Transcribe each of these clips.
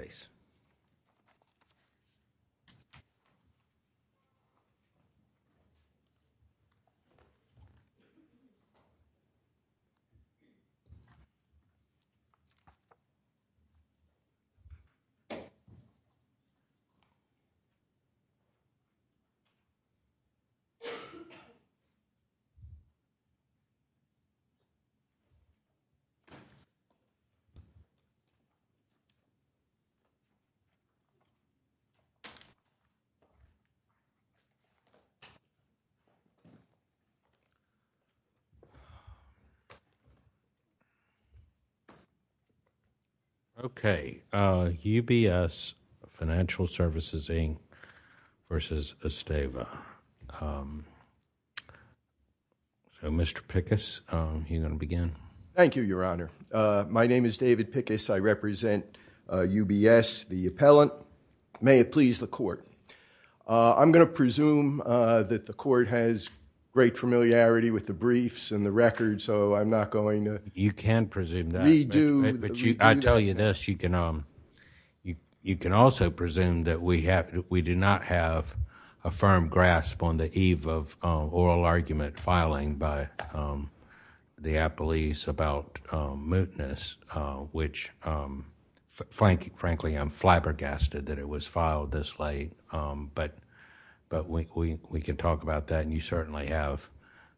So, Mr. Pickus, are you going to begin? Thank you, Your Honor. My name is David Pickus. I represent UBS, the appellant. May it please the court. I'm going to presume that the court has great familiarity with the briefs and the records, so I'm not going to redo the record. You can presume that, but I'll tell you this. You can also presume that we do not have a firm grasp on the eve of oral argument filing by the appellees about mootness, which frankly, I'm flabbergasted that it was filed this late, but we can talk about that and you certainly have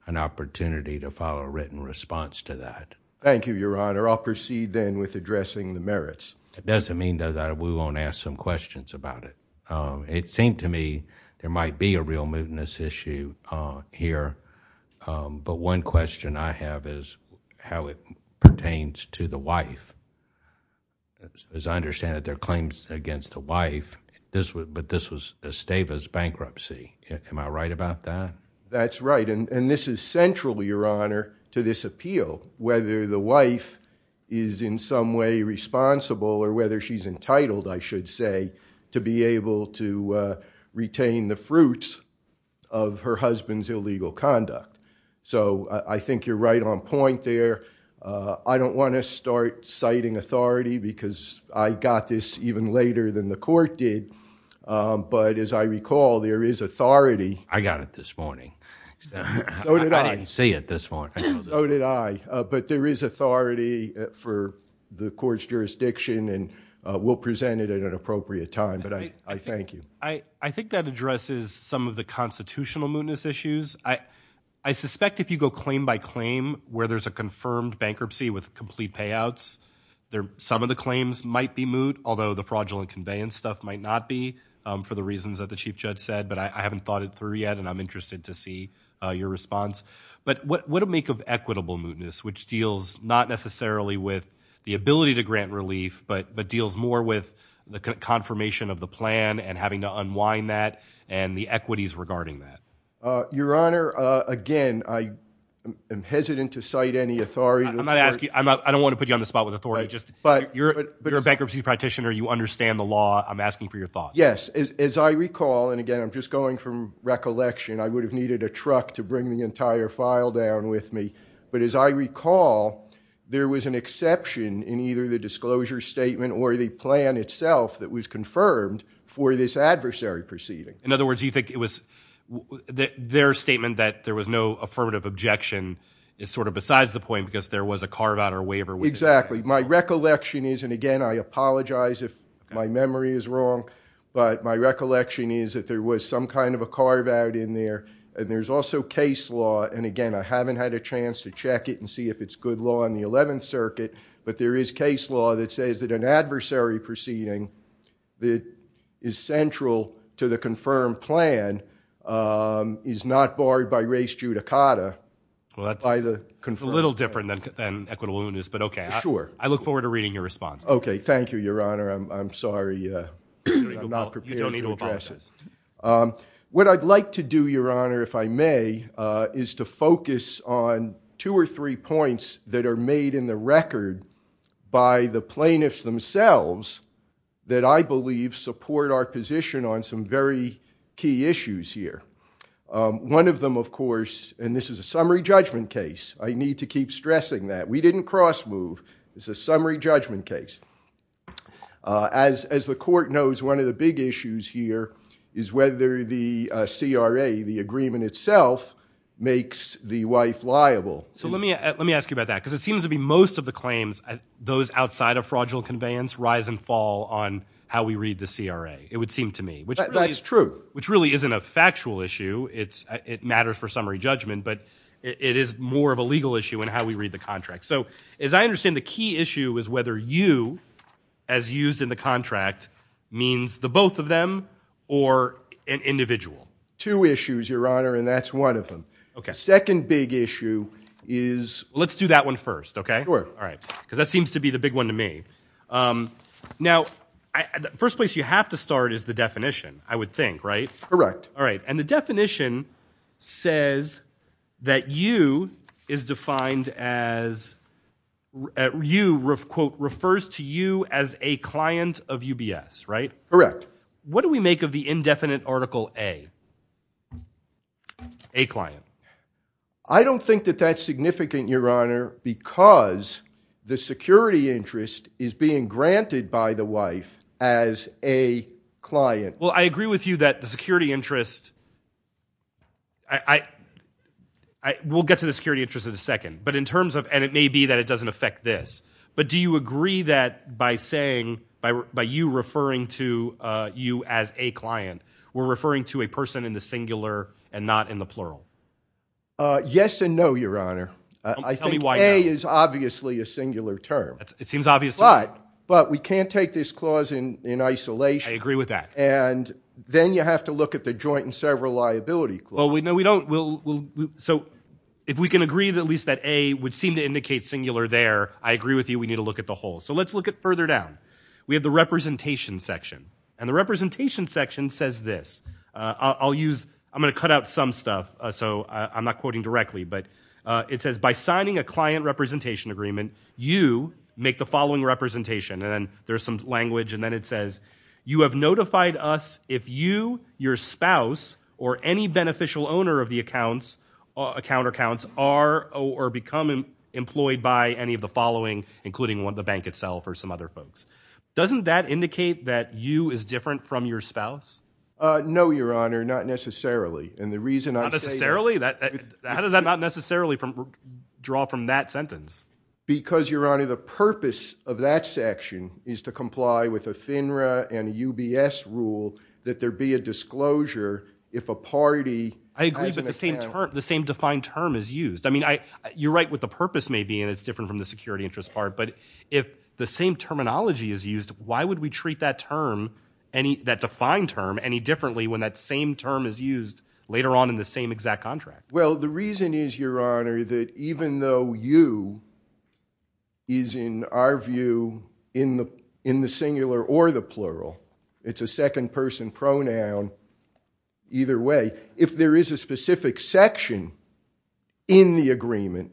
an opportunity to file a written response to that. Thank you, Your Honor. I'll proceed then with addressing the merits. It doesn't mean, though, that we won't ask some questions about it. It seemed to me there might be a real mootness issue here, but one question I have is how it pertains to the wife. As I understand it, there are claims against the wife, but this was Esteva's bankruptcy. Am I right about that? That's right, and this is central, Your Honor, to this appeal, whether the wife is in some way responsible or whether she's entitled, I should say, to be able to retain the fruits of her husband's illegal conduct. I think you're right on point there. I don't want to start citing authority because I got this even later than the court did, but as I recall, there is authority. I got it this morning. So did I. I didn't see it this morning. So did I. But there is authority for the court's jurisdiction, and we'll present it at an appropriate time, but I thank you. I think that addresses some of the constitutional mootness issues. I suspect if you go claim by claim where there's a confirmed bankruptcy with complete payouts, some of the claims might be moot, although the fraudulent conveyance stuff might not be for the reasons that the Chief Judge said, but I haven't thought it through yet, and I'm interested to see your response. But what would it make of equitable mootness, which deals not necessarily with the ability to grant relief, but deals more with the confirmation of the plan and having to unwind that and the equities regarding that? Your Honor, again, I am hesitant to cite any authority. I'm not asking. I don't want to put you on the spot with authority. You're a bankruptcy practitioner. You understand the law. I'm asking for your thoughts. Yes. As I recall, and again, I'm just going from recollection, I would have needed a truck to bring the entire file down with me, but as I recall, there was an exception in either the disclosure statement or the plan itself that was confirmed for this adversary proceeding. In other words, you think it was their statement that there was no affirmative objection is sort of besides the point because there was a carve out or waiver. Exactly. My recollection is, and again, I apologize if my memory is wrong, but my recollection is that there was some kind of a carve out in there and there's also case law, and again, I haven't had a chance to check it and see if it's good law in the 11th Circuit, but there is case law that says that an adversary proceeding that is central to the confirmed plan is not barred by race judicata by the confirmed plan. Well, that's a little different than equitableness, but okay. Sure. I look forward to reading your response. Okay. Thank you, Your Honor. I'm sorry. I'm not prepared to address it. What I'd like to do, Your Honor, if I may, is to focus on two or three points that are made in the record by the plaintiffs themselves that I believe support our position on some very key issues here. One of them, of course, and this is a summary judgment case. I need to keep stressing that. We didn't cross move. This is a summary judgment case. As the court knows, one of the big issues here is whether the CRA, the agreement itself, makes the wife liable. So let me ask you about that, because it seems to be most of the claims, those outside of fraudulent conveyance, rise and fall on how we read the CRA. It would seem to me. That's true. Which really isn't a factual issue. It matters for summary judgment, but it is more of a legal issue in how we read the contract. So, as I understand, the key issue is whether you, as used in the contract, means the both of them or an individual. Two issues, Your Honor, and that's one of them. Second big issue is... Let's do that one first. Okay? All right. Because that seems to be the big one to me. Now, the first place you have to start is the definition, I would think, right? Correct. All right. And the definition says that you is defined as you, quote, refers to you as a client of UBS, right? Correct. What do we make of the indefinite article A? A client. I don't think that that's significant, Your Honor, because the security interest is being granted by the wife as a client. Well, I agree with you that the security interest... We'll get to the security interest in a second. But in terms of... And it may be that it doesn't affect this. But do you agree that by saying... By you referring to you as a client, we're referring to a person in the singular and not in the plural? Yes and no, Your Honor. I think A is obviously a singular term. It seems obvious to me. But we can't take this clause in isolation. I agree with that. And then you have to look at the joint and several liability clause. Well, no, we don't. So if we can agree that at least that A would seem to indicate singular there, I agree with you we need to look at the whole. So let's look at further down. We have the representation section. And the representation section says this. I'll use... I'm going to cut out some stuff. So I'm not quoting directly. But it says, by signing a client representation agreement, you make the following representation. And then there's some language. And then it says, you have notified us if you, your spouse, or any beneficial owner of the accounts, account or counts, are or become employed by any of the following, including the bank itself or some other folks. Doesn't that indicate that you is different from your spouse? No, Your Honor. Not necessarily. And the reason I say... How does that not necessarily draw from that sentence? Because, Your Honor, the purpose of that section is to comply with a FINRA and UBS rule that there be a disclosure if a party... I agree. But the same term... The same defined term is used. I mean, I... You're right what the purpose may be. And it's different from the security interest part. But if the same terminology is used, why would we treat that term, that defined term, any differently when that same term is used later on in the same exact contract? Well, the reason is, Your Honor, that even though you is, in our view, in the singular or the plural, it's a second person pronoun, either way, if there is a specific section in the agreement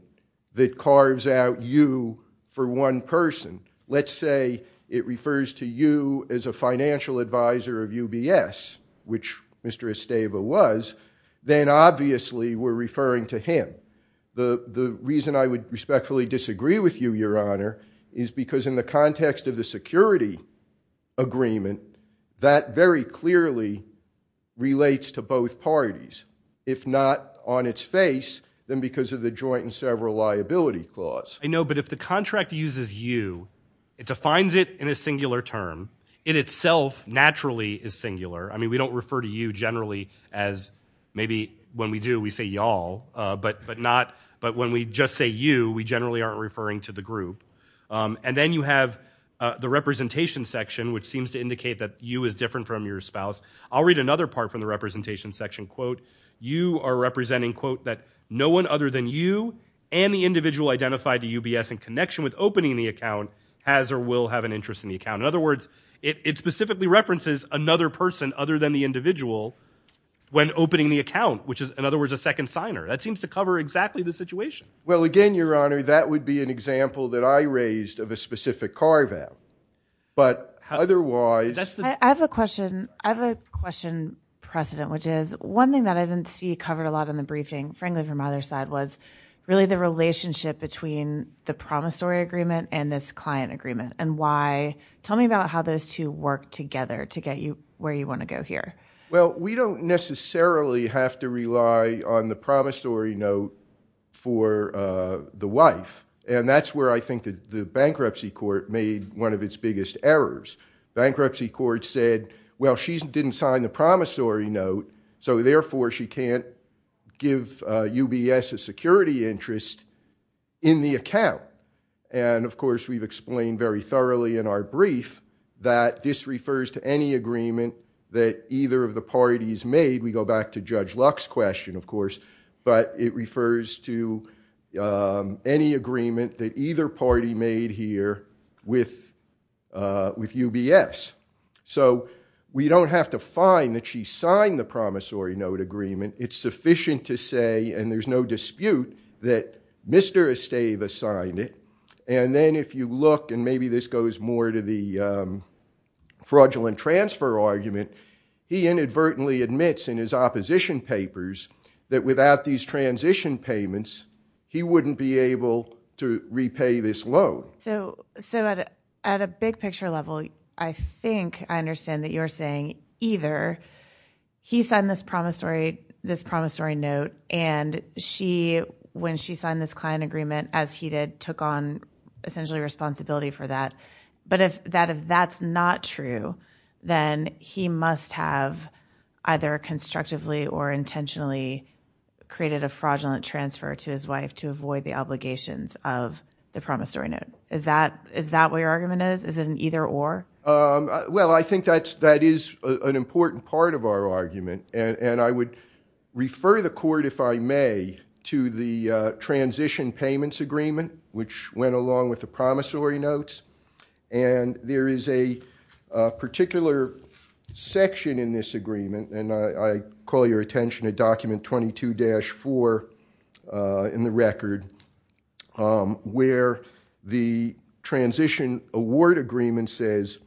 that carves out you for one person, let's say it refers to you as a financial advisor of UBS, which Mr. Esteva was, then obviously we're referring to him. The reason I would respectfully disagree with you, Your Honor, is because in the context of the security agreement, that very clearly relates to both parties. If not on its face, then because of the joint and several liability clause. I know, but if the contract uses you, it defines it in a singular term. It itself, naturally, is singular. I mean, we don't refer to you generally as, maybe when we do, we say y'all, but when we just say you, we generally aren't referring to the group. And then you have the representation section, which seems to indicate that you is different from your spouse. I'll read another part from the representation section, quote, you are representing, quote, that no one other than you and the individual identified to UBS in connection with opening the account has or will have an interest in the account. In other words, it specifically references another person other than the individual when opening the account, which is, in other words, a second signer. That seems to cover exactly the situation. Well, again, Your Honor, that would be an example that I raised of a specific carve out. But otherwise... I have a question, President, which is, one thing that I didn't see covered a lot in the briefing, frankly, from either side, was really the relationship between the promissory agreement and this client agreement. And why... Tell me about how those two work together to get you where you want to go here. Well, we don't necessarily have to rely on the promissory note for the wife. And that's where I think the bankruptcy court made one of its biggest errors. Bankruptcy court said, well, she didn't sign the promissory note, so therefore she can't give UBS a security interest in the account. And of course, we've explained very thoroughly in our brief that this refers to any agreement that either of the parties made. We go back to Judge Luck's question, of course, but it refers to any agreement that either party made here with UBS. So we don't have to find that she signed the promissory note agreement. It's sufficient to say, and there's no dispute, that Mr. Estava signed it. And then if you look, and maybe this goes more to the fraudulent transfer argument, he inadvertently admits in his opposition papers that without these transition payments, he wouldn't be able to repay this loan. So at a big picture level, I think I understand that you're saying either he signed this promissory note, and when she signed this client agreement, as he did, took on essentially responsibility for that. But if that's not true, then he must have either constructively or intentionally created a fraudulent transfer to his wife to avoid the obligations of the promissory note. Is that what your argument is? Is it an either or? Well, I think that is an important part of our argument. And I would refer the court, if I may, to the transition payments agreement, which went along with the promissory notes. And there is a particular section in this agreement, and I call your attention to document 22-4 in the record, where the transition award agreement says,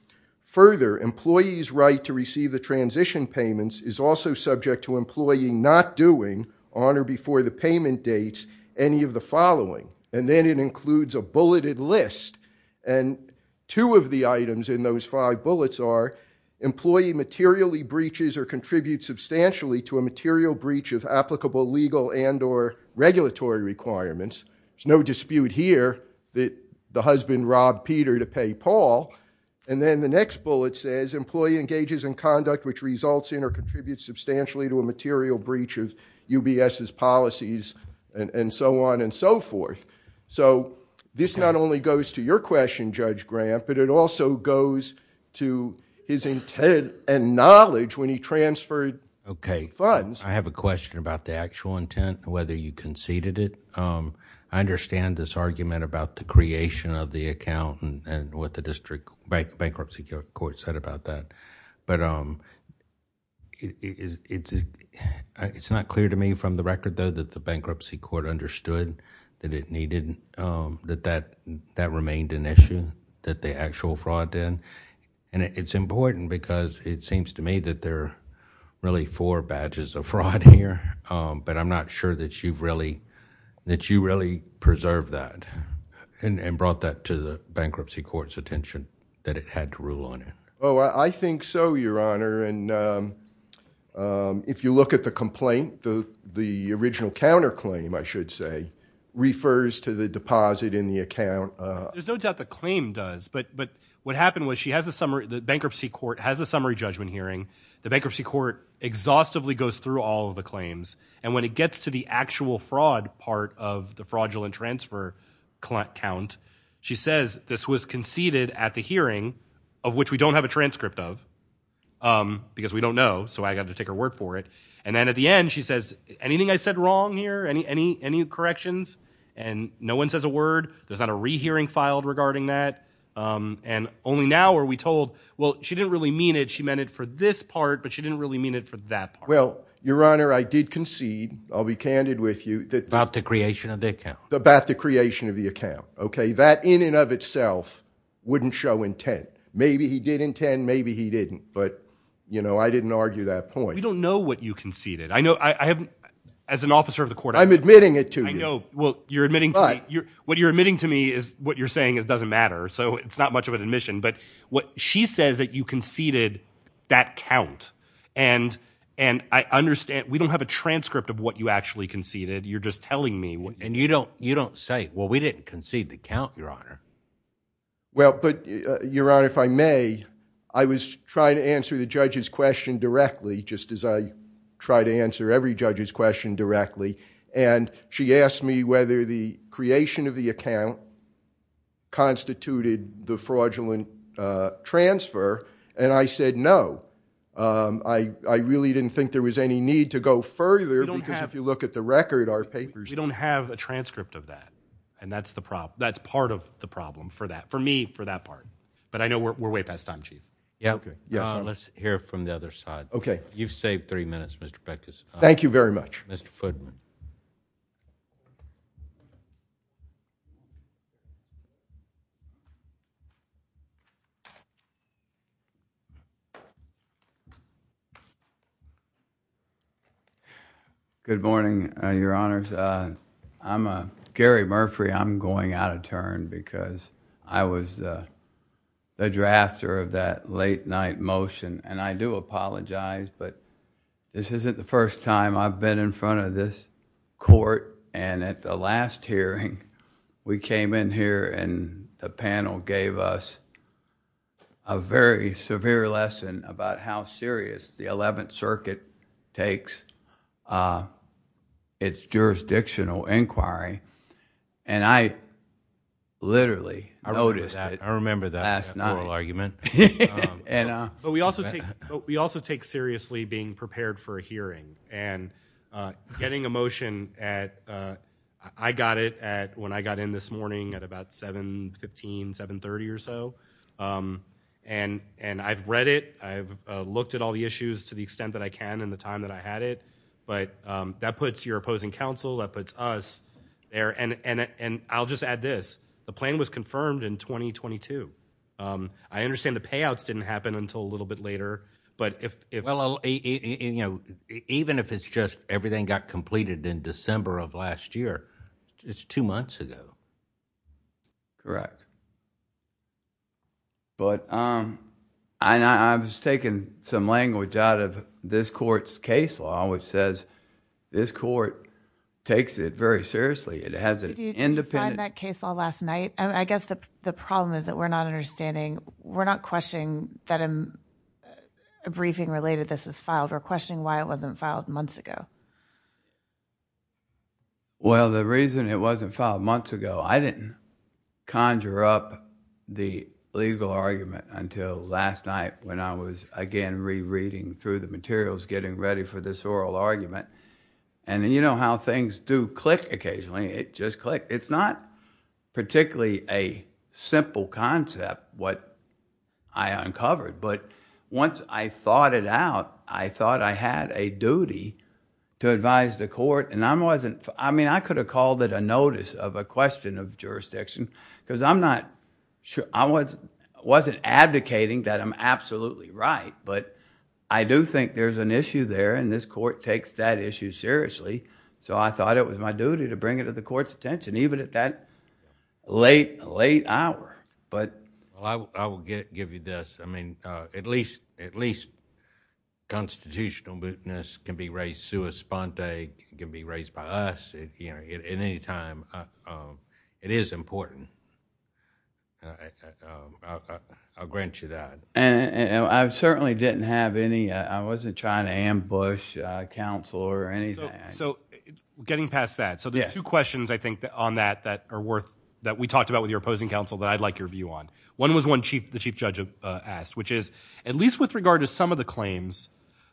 further, employee's right to receive the transition payments is also subject to employee not doing on or before the payment dates any of the following. And then it includes a bulleted list. And two of the items in those five bullets are employee materially breaches or contributes substantially to a material breach of applicable legal and or regulatory requirements. There's no dispute here that the husband robbed Peter to pay Paul. And then the next bullet says employee engages in conduct which results in or contributes substantially to a material breach of UBS's policies, and so on and so forth. So this not only goes to your question, Judge Grant, but it also goes to his intent and knowledge when he transferred funds. I have a question about the actual intent, whether you conceded it. I understand this argument about the creation of the account and what the district bankruptcy court said about that. But it's not clear to me from the record, though, that the bankruptcy court understood that it needed... that that remained an issue, that the actual fraud did. And it's important because it seems to me that there are really four badges of fraud here. But I'm not sure that you've really... that you really preserved that and brought that to the bankruptcy court's attention, that it had to rule on it. Oh, I think so, Your Honor. And if you look at the complaint, the original counterclaim, I should say, refers to the deposit in the account... There's no doubt the claim does. But what happened was she has a summary... the bankruptcy court has a summary judgment hearing. The bankruptcy court exhaustively goes through all of the claims. And when it gets to the actual fraud part of the fraudulent transfer count, she says this was conceded at the hearing, of which we don't have a transcript of, because we don't know, so I got to take her word for it. And then at the end, she says, anything I said wrong here, any corrections? And no one says a word. There's not a rehearing filed regarding that. And only now are we told, well, she didn't really mean it. She meant it for this part, but she didn't really mean it for that part. Well, Your Honor, I did concede. I'll be candid with you. About the creation of the account. About the creation of the account, okay? That in and of itself wouldn't show intent. Maybe he did intend. Maybe he didn't. But, you know, I didn't argue that point. We don't know what you conceded. I know... I haven't... as an officer of the court... I'm admitting it to you. I know. Well, you're admitting to me... What you're admitting to me is... What you're saying is doesn't matter. So it's not much of an admission. But what she says that you conceded that count. And I understand... We don't have a transcript of what you actually conceded. You're just telling me... And you don't... You don't say, well, we didn't concede the count, Your Honor. Well, but, Your Honor, if I may, I was trying to answer the judge's question directly, just as I try to answer every judge's question directly. And she asked me whether the creation of the account constituted the fraudulent transfer. And I said, no. I really didn't think there was any need to go further because if you look at the record, our papers... We don't have a transcript of that. And that's the problem. That's part of the problem for that... for me, for that part. But I know we're way past time, Chief. Yeah. Let's hear from the other side. Okay. You've saved three minutes, Mr. Bectus. Thank you very much. Mr. Fudman. Good morning, Your Honors. I'm Gary Murphrey. I'm going out of turn because I was the drafter of that late night motion. And I do apologize. But this isn't the first time I've been in front of this court. And at the last hearing, we came in here and the panel gave us a very severe lesson about how serious the Eleventh Circuit takes its jurisdictional inquiry. And I literally noticed it last night. I remember that oral argument. But we also take seriously being prepared for a hearing and getting a motion. I got it when I got in this morning at about 7.15, 7.30 or so. And I've read it. I've looked at all the issues to the extent that I can in the time that I had it. But that puts your opposing counsel, that puts us there. And I'll just add this. The plan was confirmed in 2022. I understand the payouts didn't happen until a little bit later. But if... Well, even if it's just everything got completed in December of last year, it's two months ago. Correct. But I was taking some language out of this court's case law, which says this court takes it very seriously. It has an independent... Did you sign that case law last night? I guess the problem is that we're not understanding... we're not questioning that a briefing related to this was filed. We're questioning why it wasn't filed months ago. Well, the reason it wasn't filed months ago... I didn't conjure up the legal argument until last night when I was, again, rereading through the materials, getting ready for this oral argument. And you know how things do click occasionally. It just clicked. It's not particularly a simple concept, what I uncovered. But once I thought it out, I thought I had a duty to advise the court. And I wasn't... I mean, I could have called it a notice of a question of jurisdiction because I'm not sure... I wasn't advocating that I'm absolutely right. But I do think there's an issue there, and this court takes that issue seriously. So I thought it was my duty to bring it to the court's attention, even at that late hour. But... Well, I will give you this. I mean, at least constitutional mootness can be raised sua sponte, can be raised by us at any time. It is important. I'll grant you that. I certainly didn't have any... I wasn't trying to ambush a counselor or anything. So getting past that, so there's two questions, I think, on that that are worth... that we talked about with your opposing counsel that I'd like your view on. One was one the chief judge asked, which is, at least with regard to some of the claims,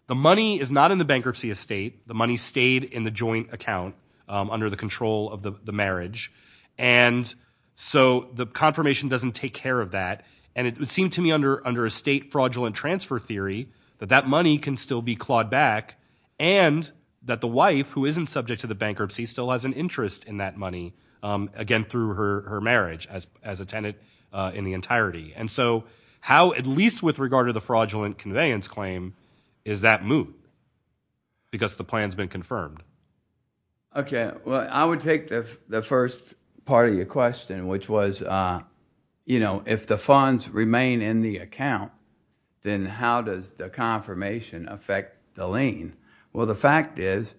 the money is not in the bankruptcy estate. The money stayed in the joint account under the control of the marriage. And so the confirmation doesn't take care of that. And it would seem to me, under estate fraudulent transfer theory, that that money can still be clawed back and that the wife, who isn't subject to the bankruptcy, still has an interest in that money, again, through her marriage as a tenant in the entirety. And so how, at least with regard to the fraudulent conveyance claim, is that moot? Because the plan's been confirmed. Well, I would take the first part of your question, which was, you know, if the funds didn't affect the lien, well, the fact is,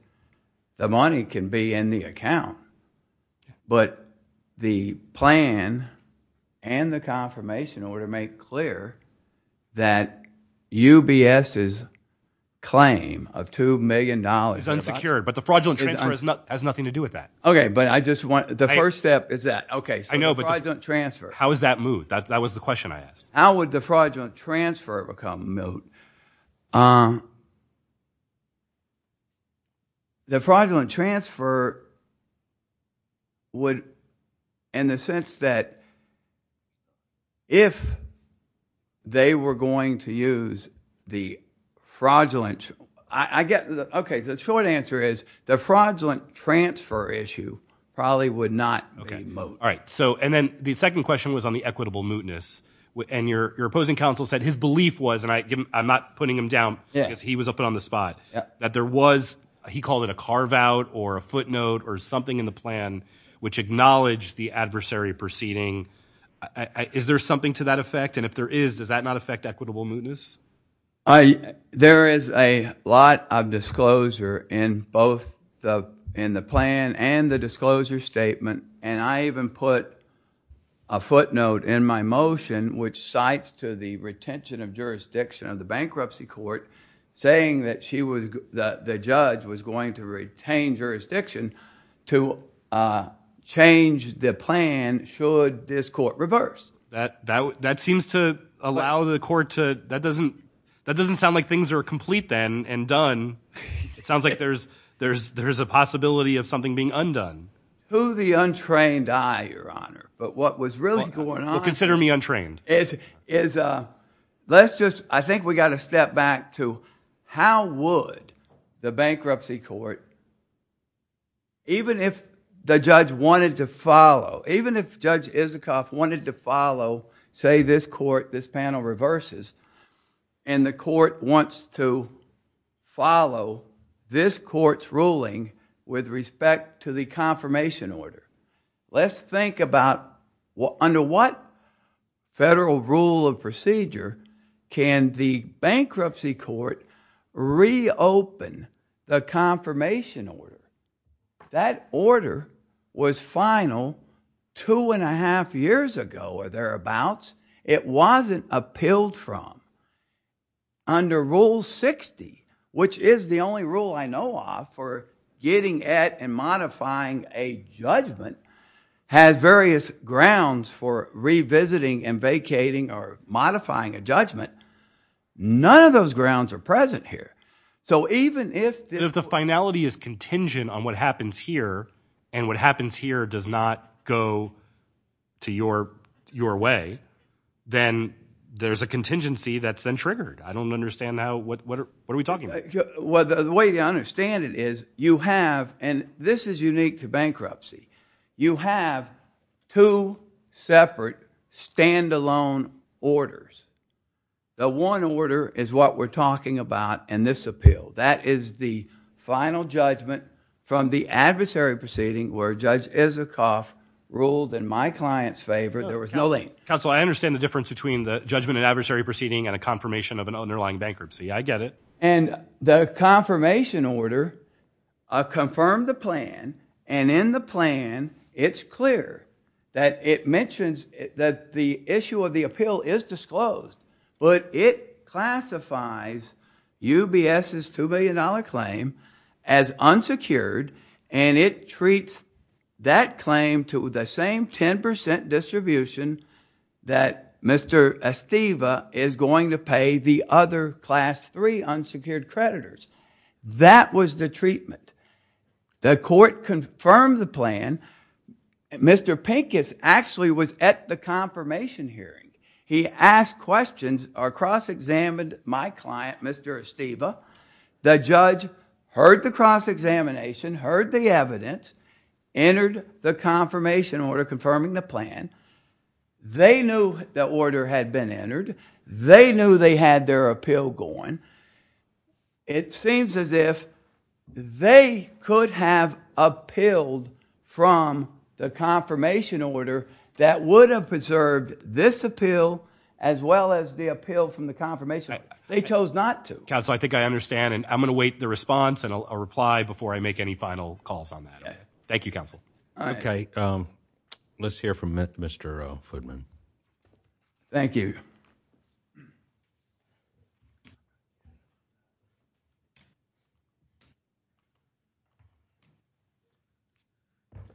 the money can be in the account. But the plan and the confirmation order make clear that UBS's claim of $2 million... Is unsecured. But the fraudulent transfer has nothing to do with that. Okay, but I just want... the first step is that. Okay, so the fraudulent transfer. How is that moot? That was the question I asked. How would the fraudulent transfer become moot? The fraudulent transfer would, in the sense that, if they were going to use the fraudulent... I get... okay, the short answer is, the fraudulent transfer issue probably would not be moot. All right, so, and then the second question was on the equitable mootness. And your opposing counsel said his belief was, and I'm not putting him down because he was up on the spot, that there was, he called it a carve-out or a footnote or something in the plan, which acknowledged the adversary proceeding. Is there something to that effect? And if there is, does that not affect equitable mootness? There is a lot of disclosure in both the plan and the disclosure statement. And I even put a footnote in my motion, which cites to the retention of jurisdiction of the bankruptcy court, saying that she was... the judge was going to retain jurisdiction to change the plan should this court reverse. That seems to allow the court to... that doesn't sound like things are complete then and done. It sounds like there's a possibility of something being undone. To the untrained eye, Your Honor, but what was really going on... Well, consider me untrained. Is, let's just, I think we've got to step back to how would the bankruptcy court, even if the judge wanted to follow, even if Judge Isikoff wanted to follow, say, this court, this panel reverses, and the court wants to follow this court's ruling with respect to the confirmation order. Let's think about under what federal rule of procedure can the bankruptcy court reopen the confirmation order? That order was final two and a half years ago or thereabouts. It wasn't appealed from. Under Rule 60, which is the only rule I know of for getting at and modifying a judgment, has various grounds for revisiting and vacating or modifying a judgment. None of those grounds are present here. So even if... But if the finality is contingent on what happens here and what happens here does not go to your way, then there's a contingency that's then triggered. I don't understand now what are we talking about? Well, the way to understand it is you have, and this is unique to bankruptcy, you have two separate standalone orders. The one order is what we're talking about in this appeal. That is the final judgment from the adversary proceeding where Judge Isikoff ruled in my client's favor. There was no link. Counsel, I understand the difference between the judgment and adversary proceeding and a confirmation of an underlying bankruptcy. I get it. And the confirmation order confirmed the plan, and in the plan, it's clear that it mentions the issue of the appeal is disclosed, but it classifies UBS's $2 billion claim as unsecured and it treats that claim to the same 10% distribution that Mr. Esteva is going to pay the other Class III unsecured creditors. That was the treatment. The court confirmed the plan. And Mr. Pincus actually was at the confirmation hearing. He asked questions or cross-examined my client, Mr. Esteva. The judge heard the cross-examination, heard the evidence, entered the confirmation order confirming the plan. They knew the order had been entered. They knew they had their appeal going. And it seems as if they could have appealed from the confirmation order that would have preserved this appeal as well as the appeal from the confirmation order. They chose not to. Counsel, I think I understand, and I'm going to wait the response and a reply before I make any final calls on that. Thank you, counsel. All right. Okay. Let's hear from Mr. Fudman. Thank you.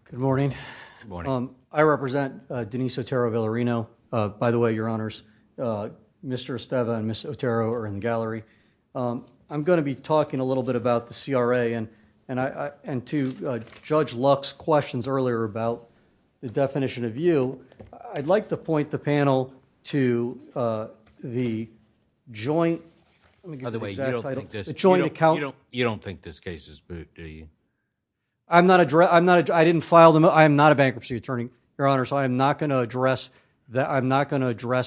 Good morning. Good morning. I represent Denise Otero Villarino. By the way, Your Honors, Mr. Esteva and Ms. Otero are in the gallery. I'm going to be talking a little bit about the CRA and to Judge Luck's questions earlier about the definition of you, I'd like to point the panel to the joint... By the way, you don't think this case is moot, do you? I'm not a bankruptcy attorney, Your Honors, so I'm not going to address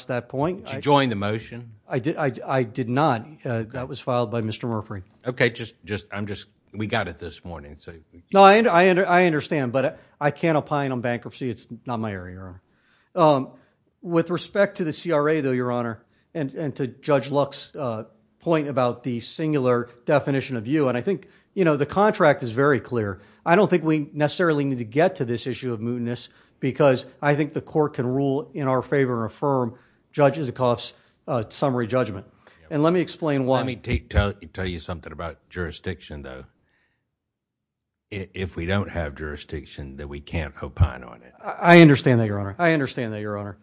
that point. Did you join the motion? I did not. That was filed by Mr. Murphree. Okay. I'm just... We got it this morning. No, I understand, but I can't opine on bankruptcy. It's not my area, Your Honor. With respect to the CRA, though, Your Honor, and to Judge Luck's point about the singular definition of you, and I think the contract is very clear. I don't think we necessarily need to get to this issue of mootness because I think the court can rule in our favor and affirm Judge Isikoff's summary judgment. Let me explain why... If we don't have jurisdiction, then we can't opine on it. I understand that, Your Honor. I understand that, Your Honor.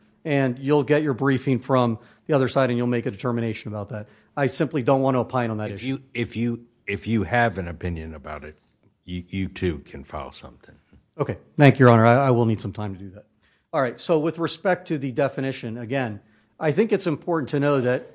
You'll get your briefing from the other side and you'll make a determination about that. I simply don't want to opine on that issue. If you have an opinion about it, you, too, can file something. Okay. Thank you, Your Honor. I will need some time to do that. All right. With respect to the definition, again, I think it's important to know that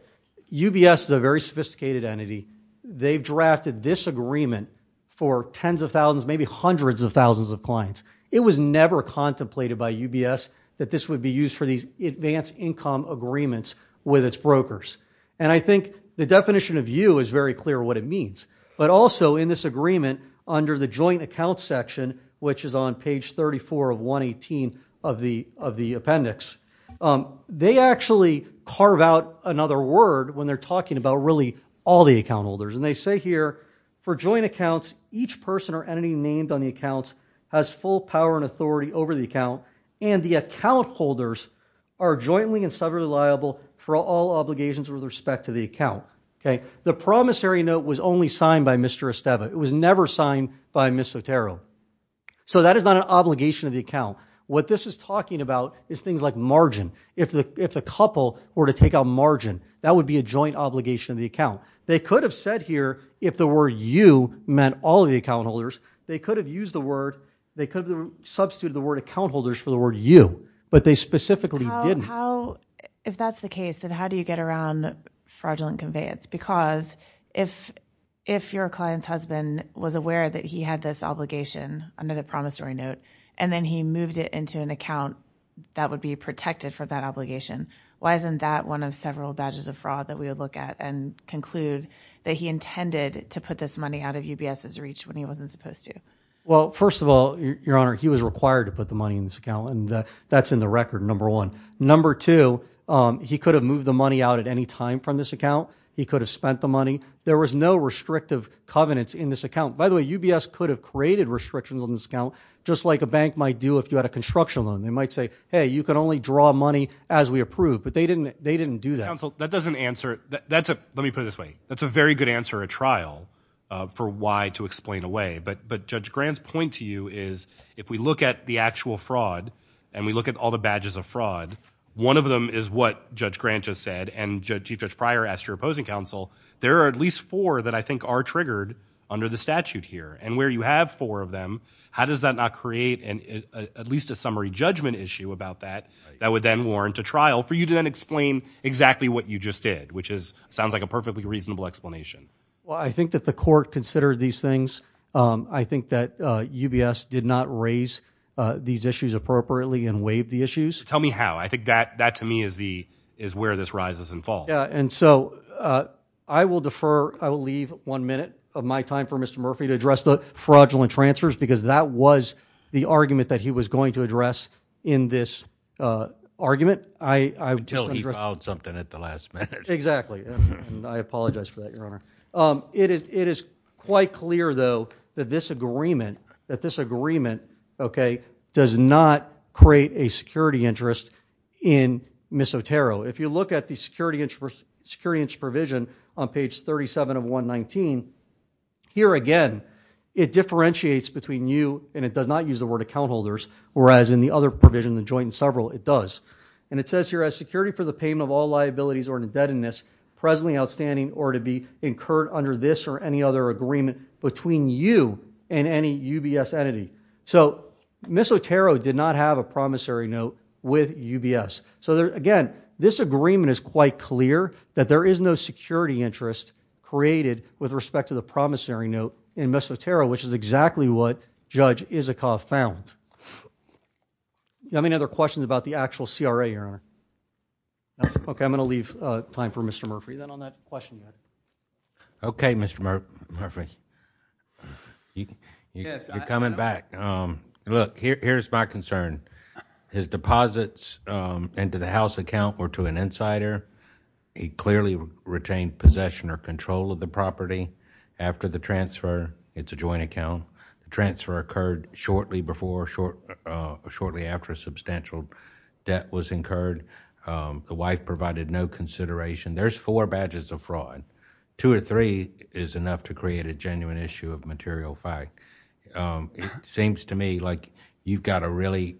UBS is a very sophisticated entity. They've drafted this agreement for tens of thousands, maybe hundreds of thousands of clients. It was never contemplated by UBS that this would be used for these advanced income agreements with its brokers. I think the definition of you is very clear what it means, but also in this agreement under the joint account section, which is on page 34 of 118 of the appendix, they actually carve out another word when they're talking about really all the account holders. They say here, for joint accounts, each person or entity named on the accounts has full power and authority over the account, and the account holders are jointly and separately liable for all obligations with respect to the account. The promissory note was only signed by Mr. Esteva. It was never signed by Ms. Sotero. That is not an obligation of the account. What this is talking about is things like margin. If the couple were to take out margin, that would be a joint obligation of the account. They could have said here, if the word you meant all of the account holders, they could have used the word, they could have substituted the word account holders for the word you, but they specifically didn't. If that's the case, then how do you get around fraudulent conveyance? Because if your client's husband was aware that he had this obligation under the promissory note, and then he moved it into an account that would be protected for that obligation, why isn't that one of several badges of fraud that we would look at and conclude that he intended to put this money out of UBS's reach when he wasn't supposed to? Well, first of all, Your Honor, he was required to put the money in this account, and that's in the record, number one. Number two, he could have moved the money out at any time from this account. He could have spent the money. There was no restrictive covenants in this account. By the way, UBS could have created restrictions on this account, just like a bank might do if you had a construction loan. They might say, hey, you can only draw money as we approve, but they didn't do that. That doesn't answer, let me put it this way, that's a very good answer at trial for why to explain away, but Judge Grant's point to you is, if we look at the actual fraud, and we look at all the badges of fraud, one of them is what Judge Grant just said, and Chief Judge Pryor asked your opposing counsel, there are at least four that I think are triggered under the statute here, and where you have four of them, how does that not create at least a summary judgment issue about that, that would then warrant a trial for you to then explain exactly what you just did, which sounds like a perfectly reasonable explanation. Well, I think that the court considered these things. I think that UBS did not raise these issues appropriately and waive the issues. Tell me how. I think that, to me, is where this rises and falls. And so, I will defer, I will leave one minute of my time for Mr. Murphy to address the fraudulent transfers because that was the argument that he was going to address in this argument. Until he filed something at the last minute. Exactly. I apologize for that, Your Honor. It is quite clear, though, that this agreement, that this agreement, okay, does not create a security interest in Ms. Otero. If you look at the security interest provision on page 37 of 119, here again, it differentiates between you, and it does not use the word account holders, whereas in the other provision, the joint and several, it does. And it says here, as security for the payment of all liabilities or indebtedness presently outstanding or to be incurred under this or any other agreement between you and any UBS entity. So, Ms. Otero did not have a promissory note with UBS. So, there, again, this agreement is quite clear that there is no security interest created with respect to the promissory note in Ms. Otero, which is exactly what Judge Isikoff found. Do you have any other questions about the actual CRA, Your Honor? Okay, I'm going to leave time for Mr. Murphy, then on that question. Okay, Mr. Murphy, you're coming back. Look, here's my concern. His deposits into the house account were to an insider. He clearly retained possession or control of the property after the transfer. It's a joint account. The transfer occurred shortly before, shortly after substantial debt was incurred. The wife provided no consideration. There's four badges of fraud. Two or three is enough to create a genuine issue of material fact. It seems to me like you've got to really,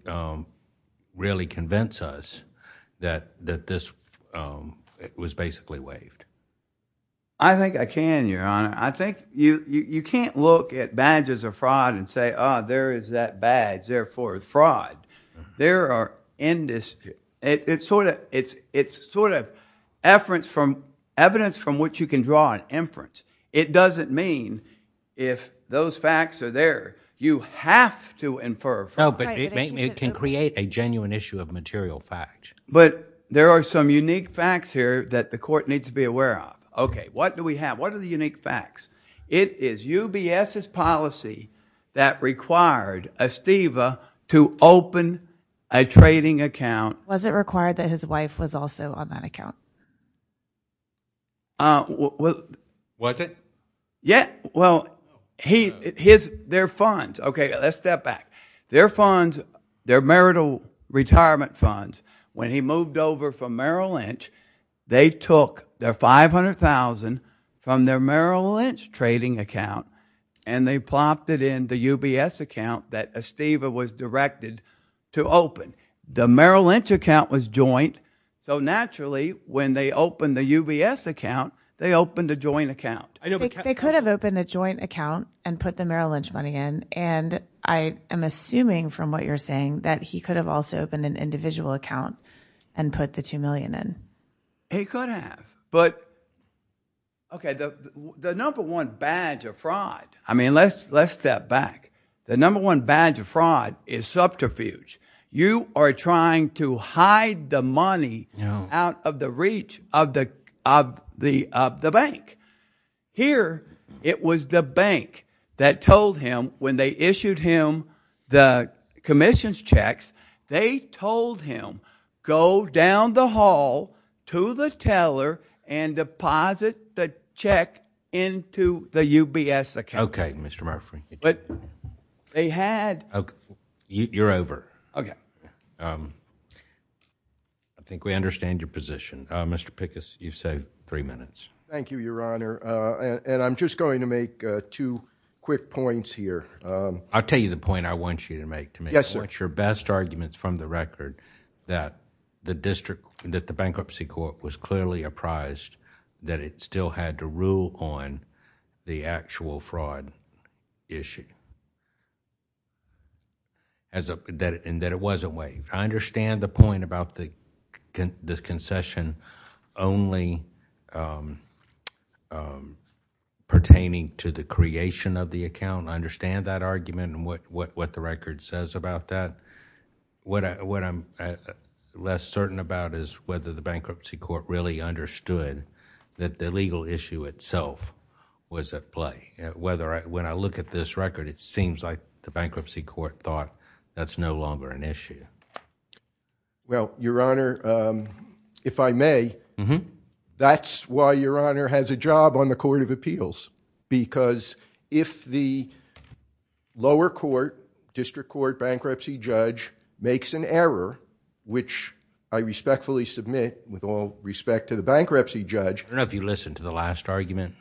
really convince us that this was basically waived. I think I can, Your Honor. I think you can't look at badges of fraud and say, oh, there is that badge, therefore fraud. There are, it's sort of evidence from which you can draw an inference. It doesn't mean if those facts are there, you have to infer fraud. It can create a genuine issue of material fact. There are some unique facts here that the court needs to be aware of. What do we have? What are the unique facts? It is UBS's policy that required Esteva to open a trading account. Was it required that his wife was also on that account? Was it? Yeah. Well, his, their funds, okay, let's step back. Their funds, their marital retirement funds, when he moved over from Merrill Lynch, they took their $500,000 from their Merrill Lynch trading account and they plopped it in the UBS account that Esteva was directed to open. The Merrill Lynch account was joint, so naturally when they opened the UBS account, they opened a joint account. They could have opened a joint account and put the Merrill Lynch money in, and I am assuming from what you're saying that he could have also opened an individual account and put the $2 million in. He could have, but, okay, the number one badge of fraud, I mean, let's step back. The number one badge of fraud is subterfuge. You are trying to hide the money out of the reach of the bank. Here it was the bank that told him, when they issued him the commission's checks, they told him go down the hall to the teller and deposit the check into the UBS account. Okay, Mr. Murphy. But they had... You're over. I think we understand your position. Mr. Pickus, you've saved three minutes. Thank you, Your Honor, and I'm just going to make two quick points here. I'll tell you the point I want you to make to me. Yes, sir. I want your best arguments from the record that the bankruptcy court was clearly apprised that it still had to rule on the actual fraud issue and that it wasn't waived. I understand the point about the concession only pertaining to the creation of the account. I understand that argument and what the record says about that. What I'm less certain about is whether the bankruptcy court really understood that the legal issue itself was at play. When I look at this record, it seems like the bankruptcy court thought that's no longer an issue. Well, Your Honor, if I may, that's why Your Honor has a job on the Court of Appeals because if the lower court, district court bankruptcy judge, makes an error, which I respectfully submit with all respect to the bankruptcy judge... I don't know if you listened to the last argument,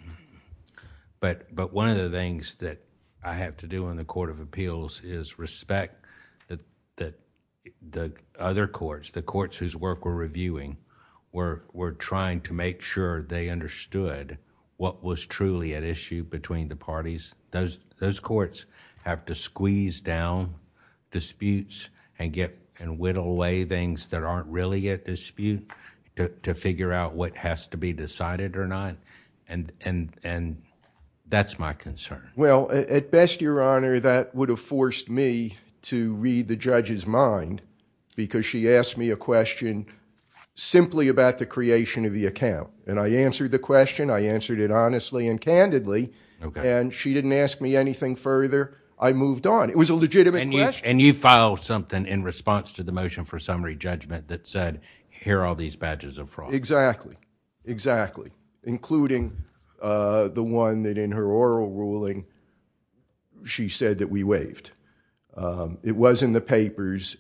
but one of the things that I have to do in the Court of Appeals is respect that the other courts, the courts whose work we're reviewing, were trying to make sure they understood what was truly at issue between the parties. Those courts have to squeeze down disputes and whittle away things that aren't really at dispute to figure out what has to be decided or not. That's my concern. Well, at best, Your Honor, that would have forced me to read the judge's mind because she asked me a question simply about the creation of the account. I answered the question. I answered it honestly and candidly. She didn't ask me anything further. I moved on. It was a legitimate question. You filed something in response to the motion for summary judgment that said, here are all these badges of fraud. Exactly. Exactly. Including the one that in her oral ruling, she said that we waived. It was in the papers.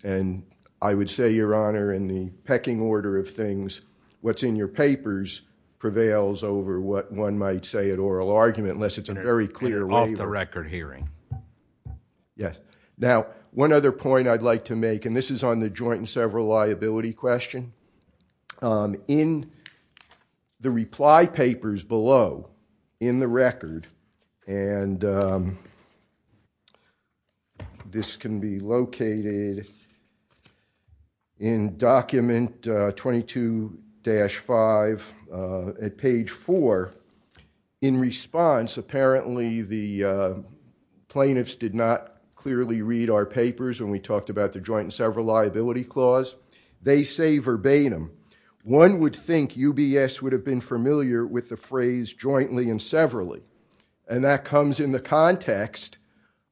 I would say, Your Honor, in the pecking order of things, what's in your papers prevails over what one might say at oral argument unless it's a very clear waiver. Off the record hearing. Yes. Now, one other point I'd like to make, and this is on the joint and several liability question, in the reply papers below in the record, and this can be located in document 22-5 at page 4, in response, apparently the plaintiffs did not clearly read our papers when we talked about the joint and several liability clause. They say verbatim, one would think UBS would have been familiar with the phrase jointly and severally, and that comes in the context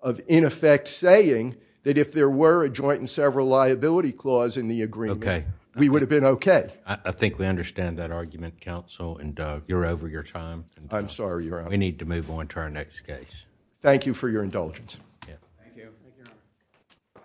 of, in effect, saying that if there were a joint and several liability clause in the agreement, we would have been okay. I think we understand that argument, counsel, and you're over your time. I'm sorry, Your Honor. We need to move on to our next case. Thank you for your indulgence. Thank you. Thank you, Your Honor.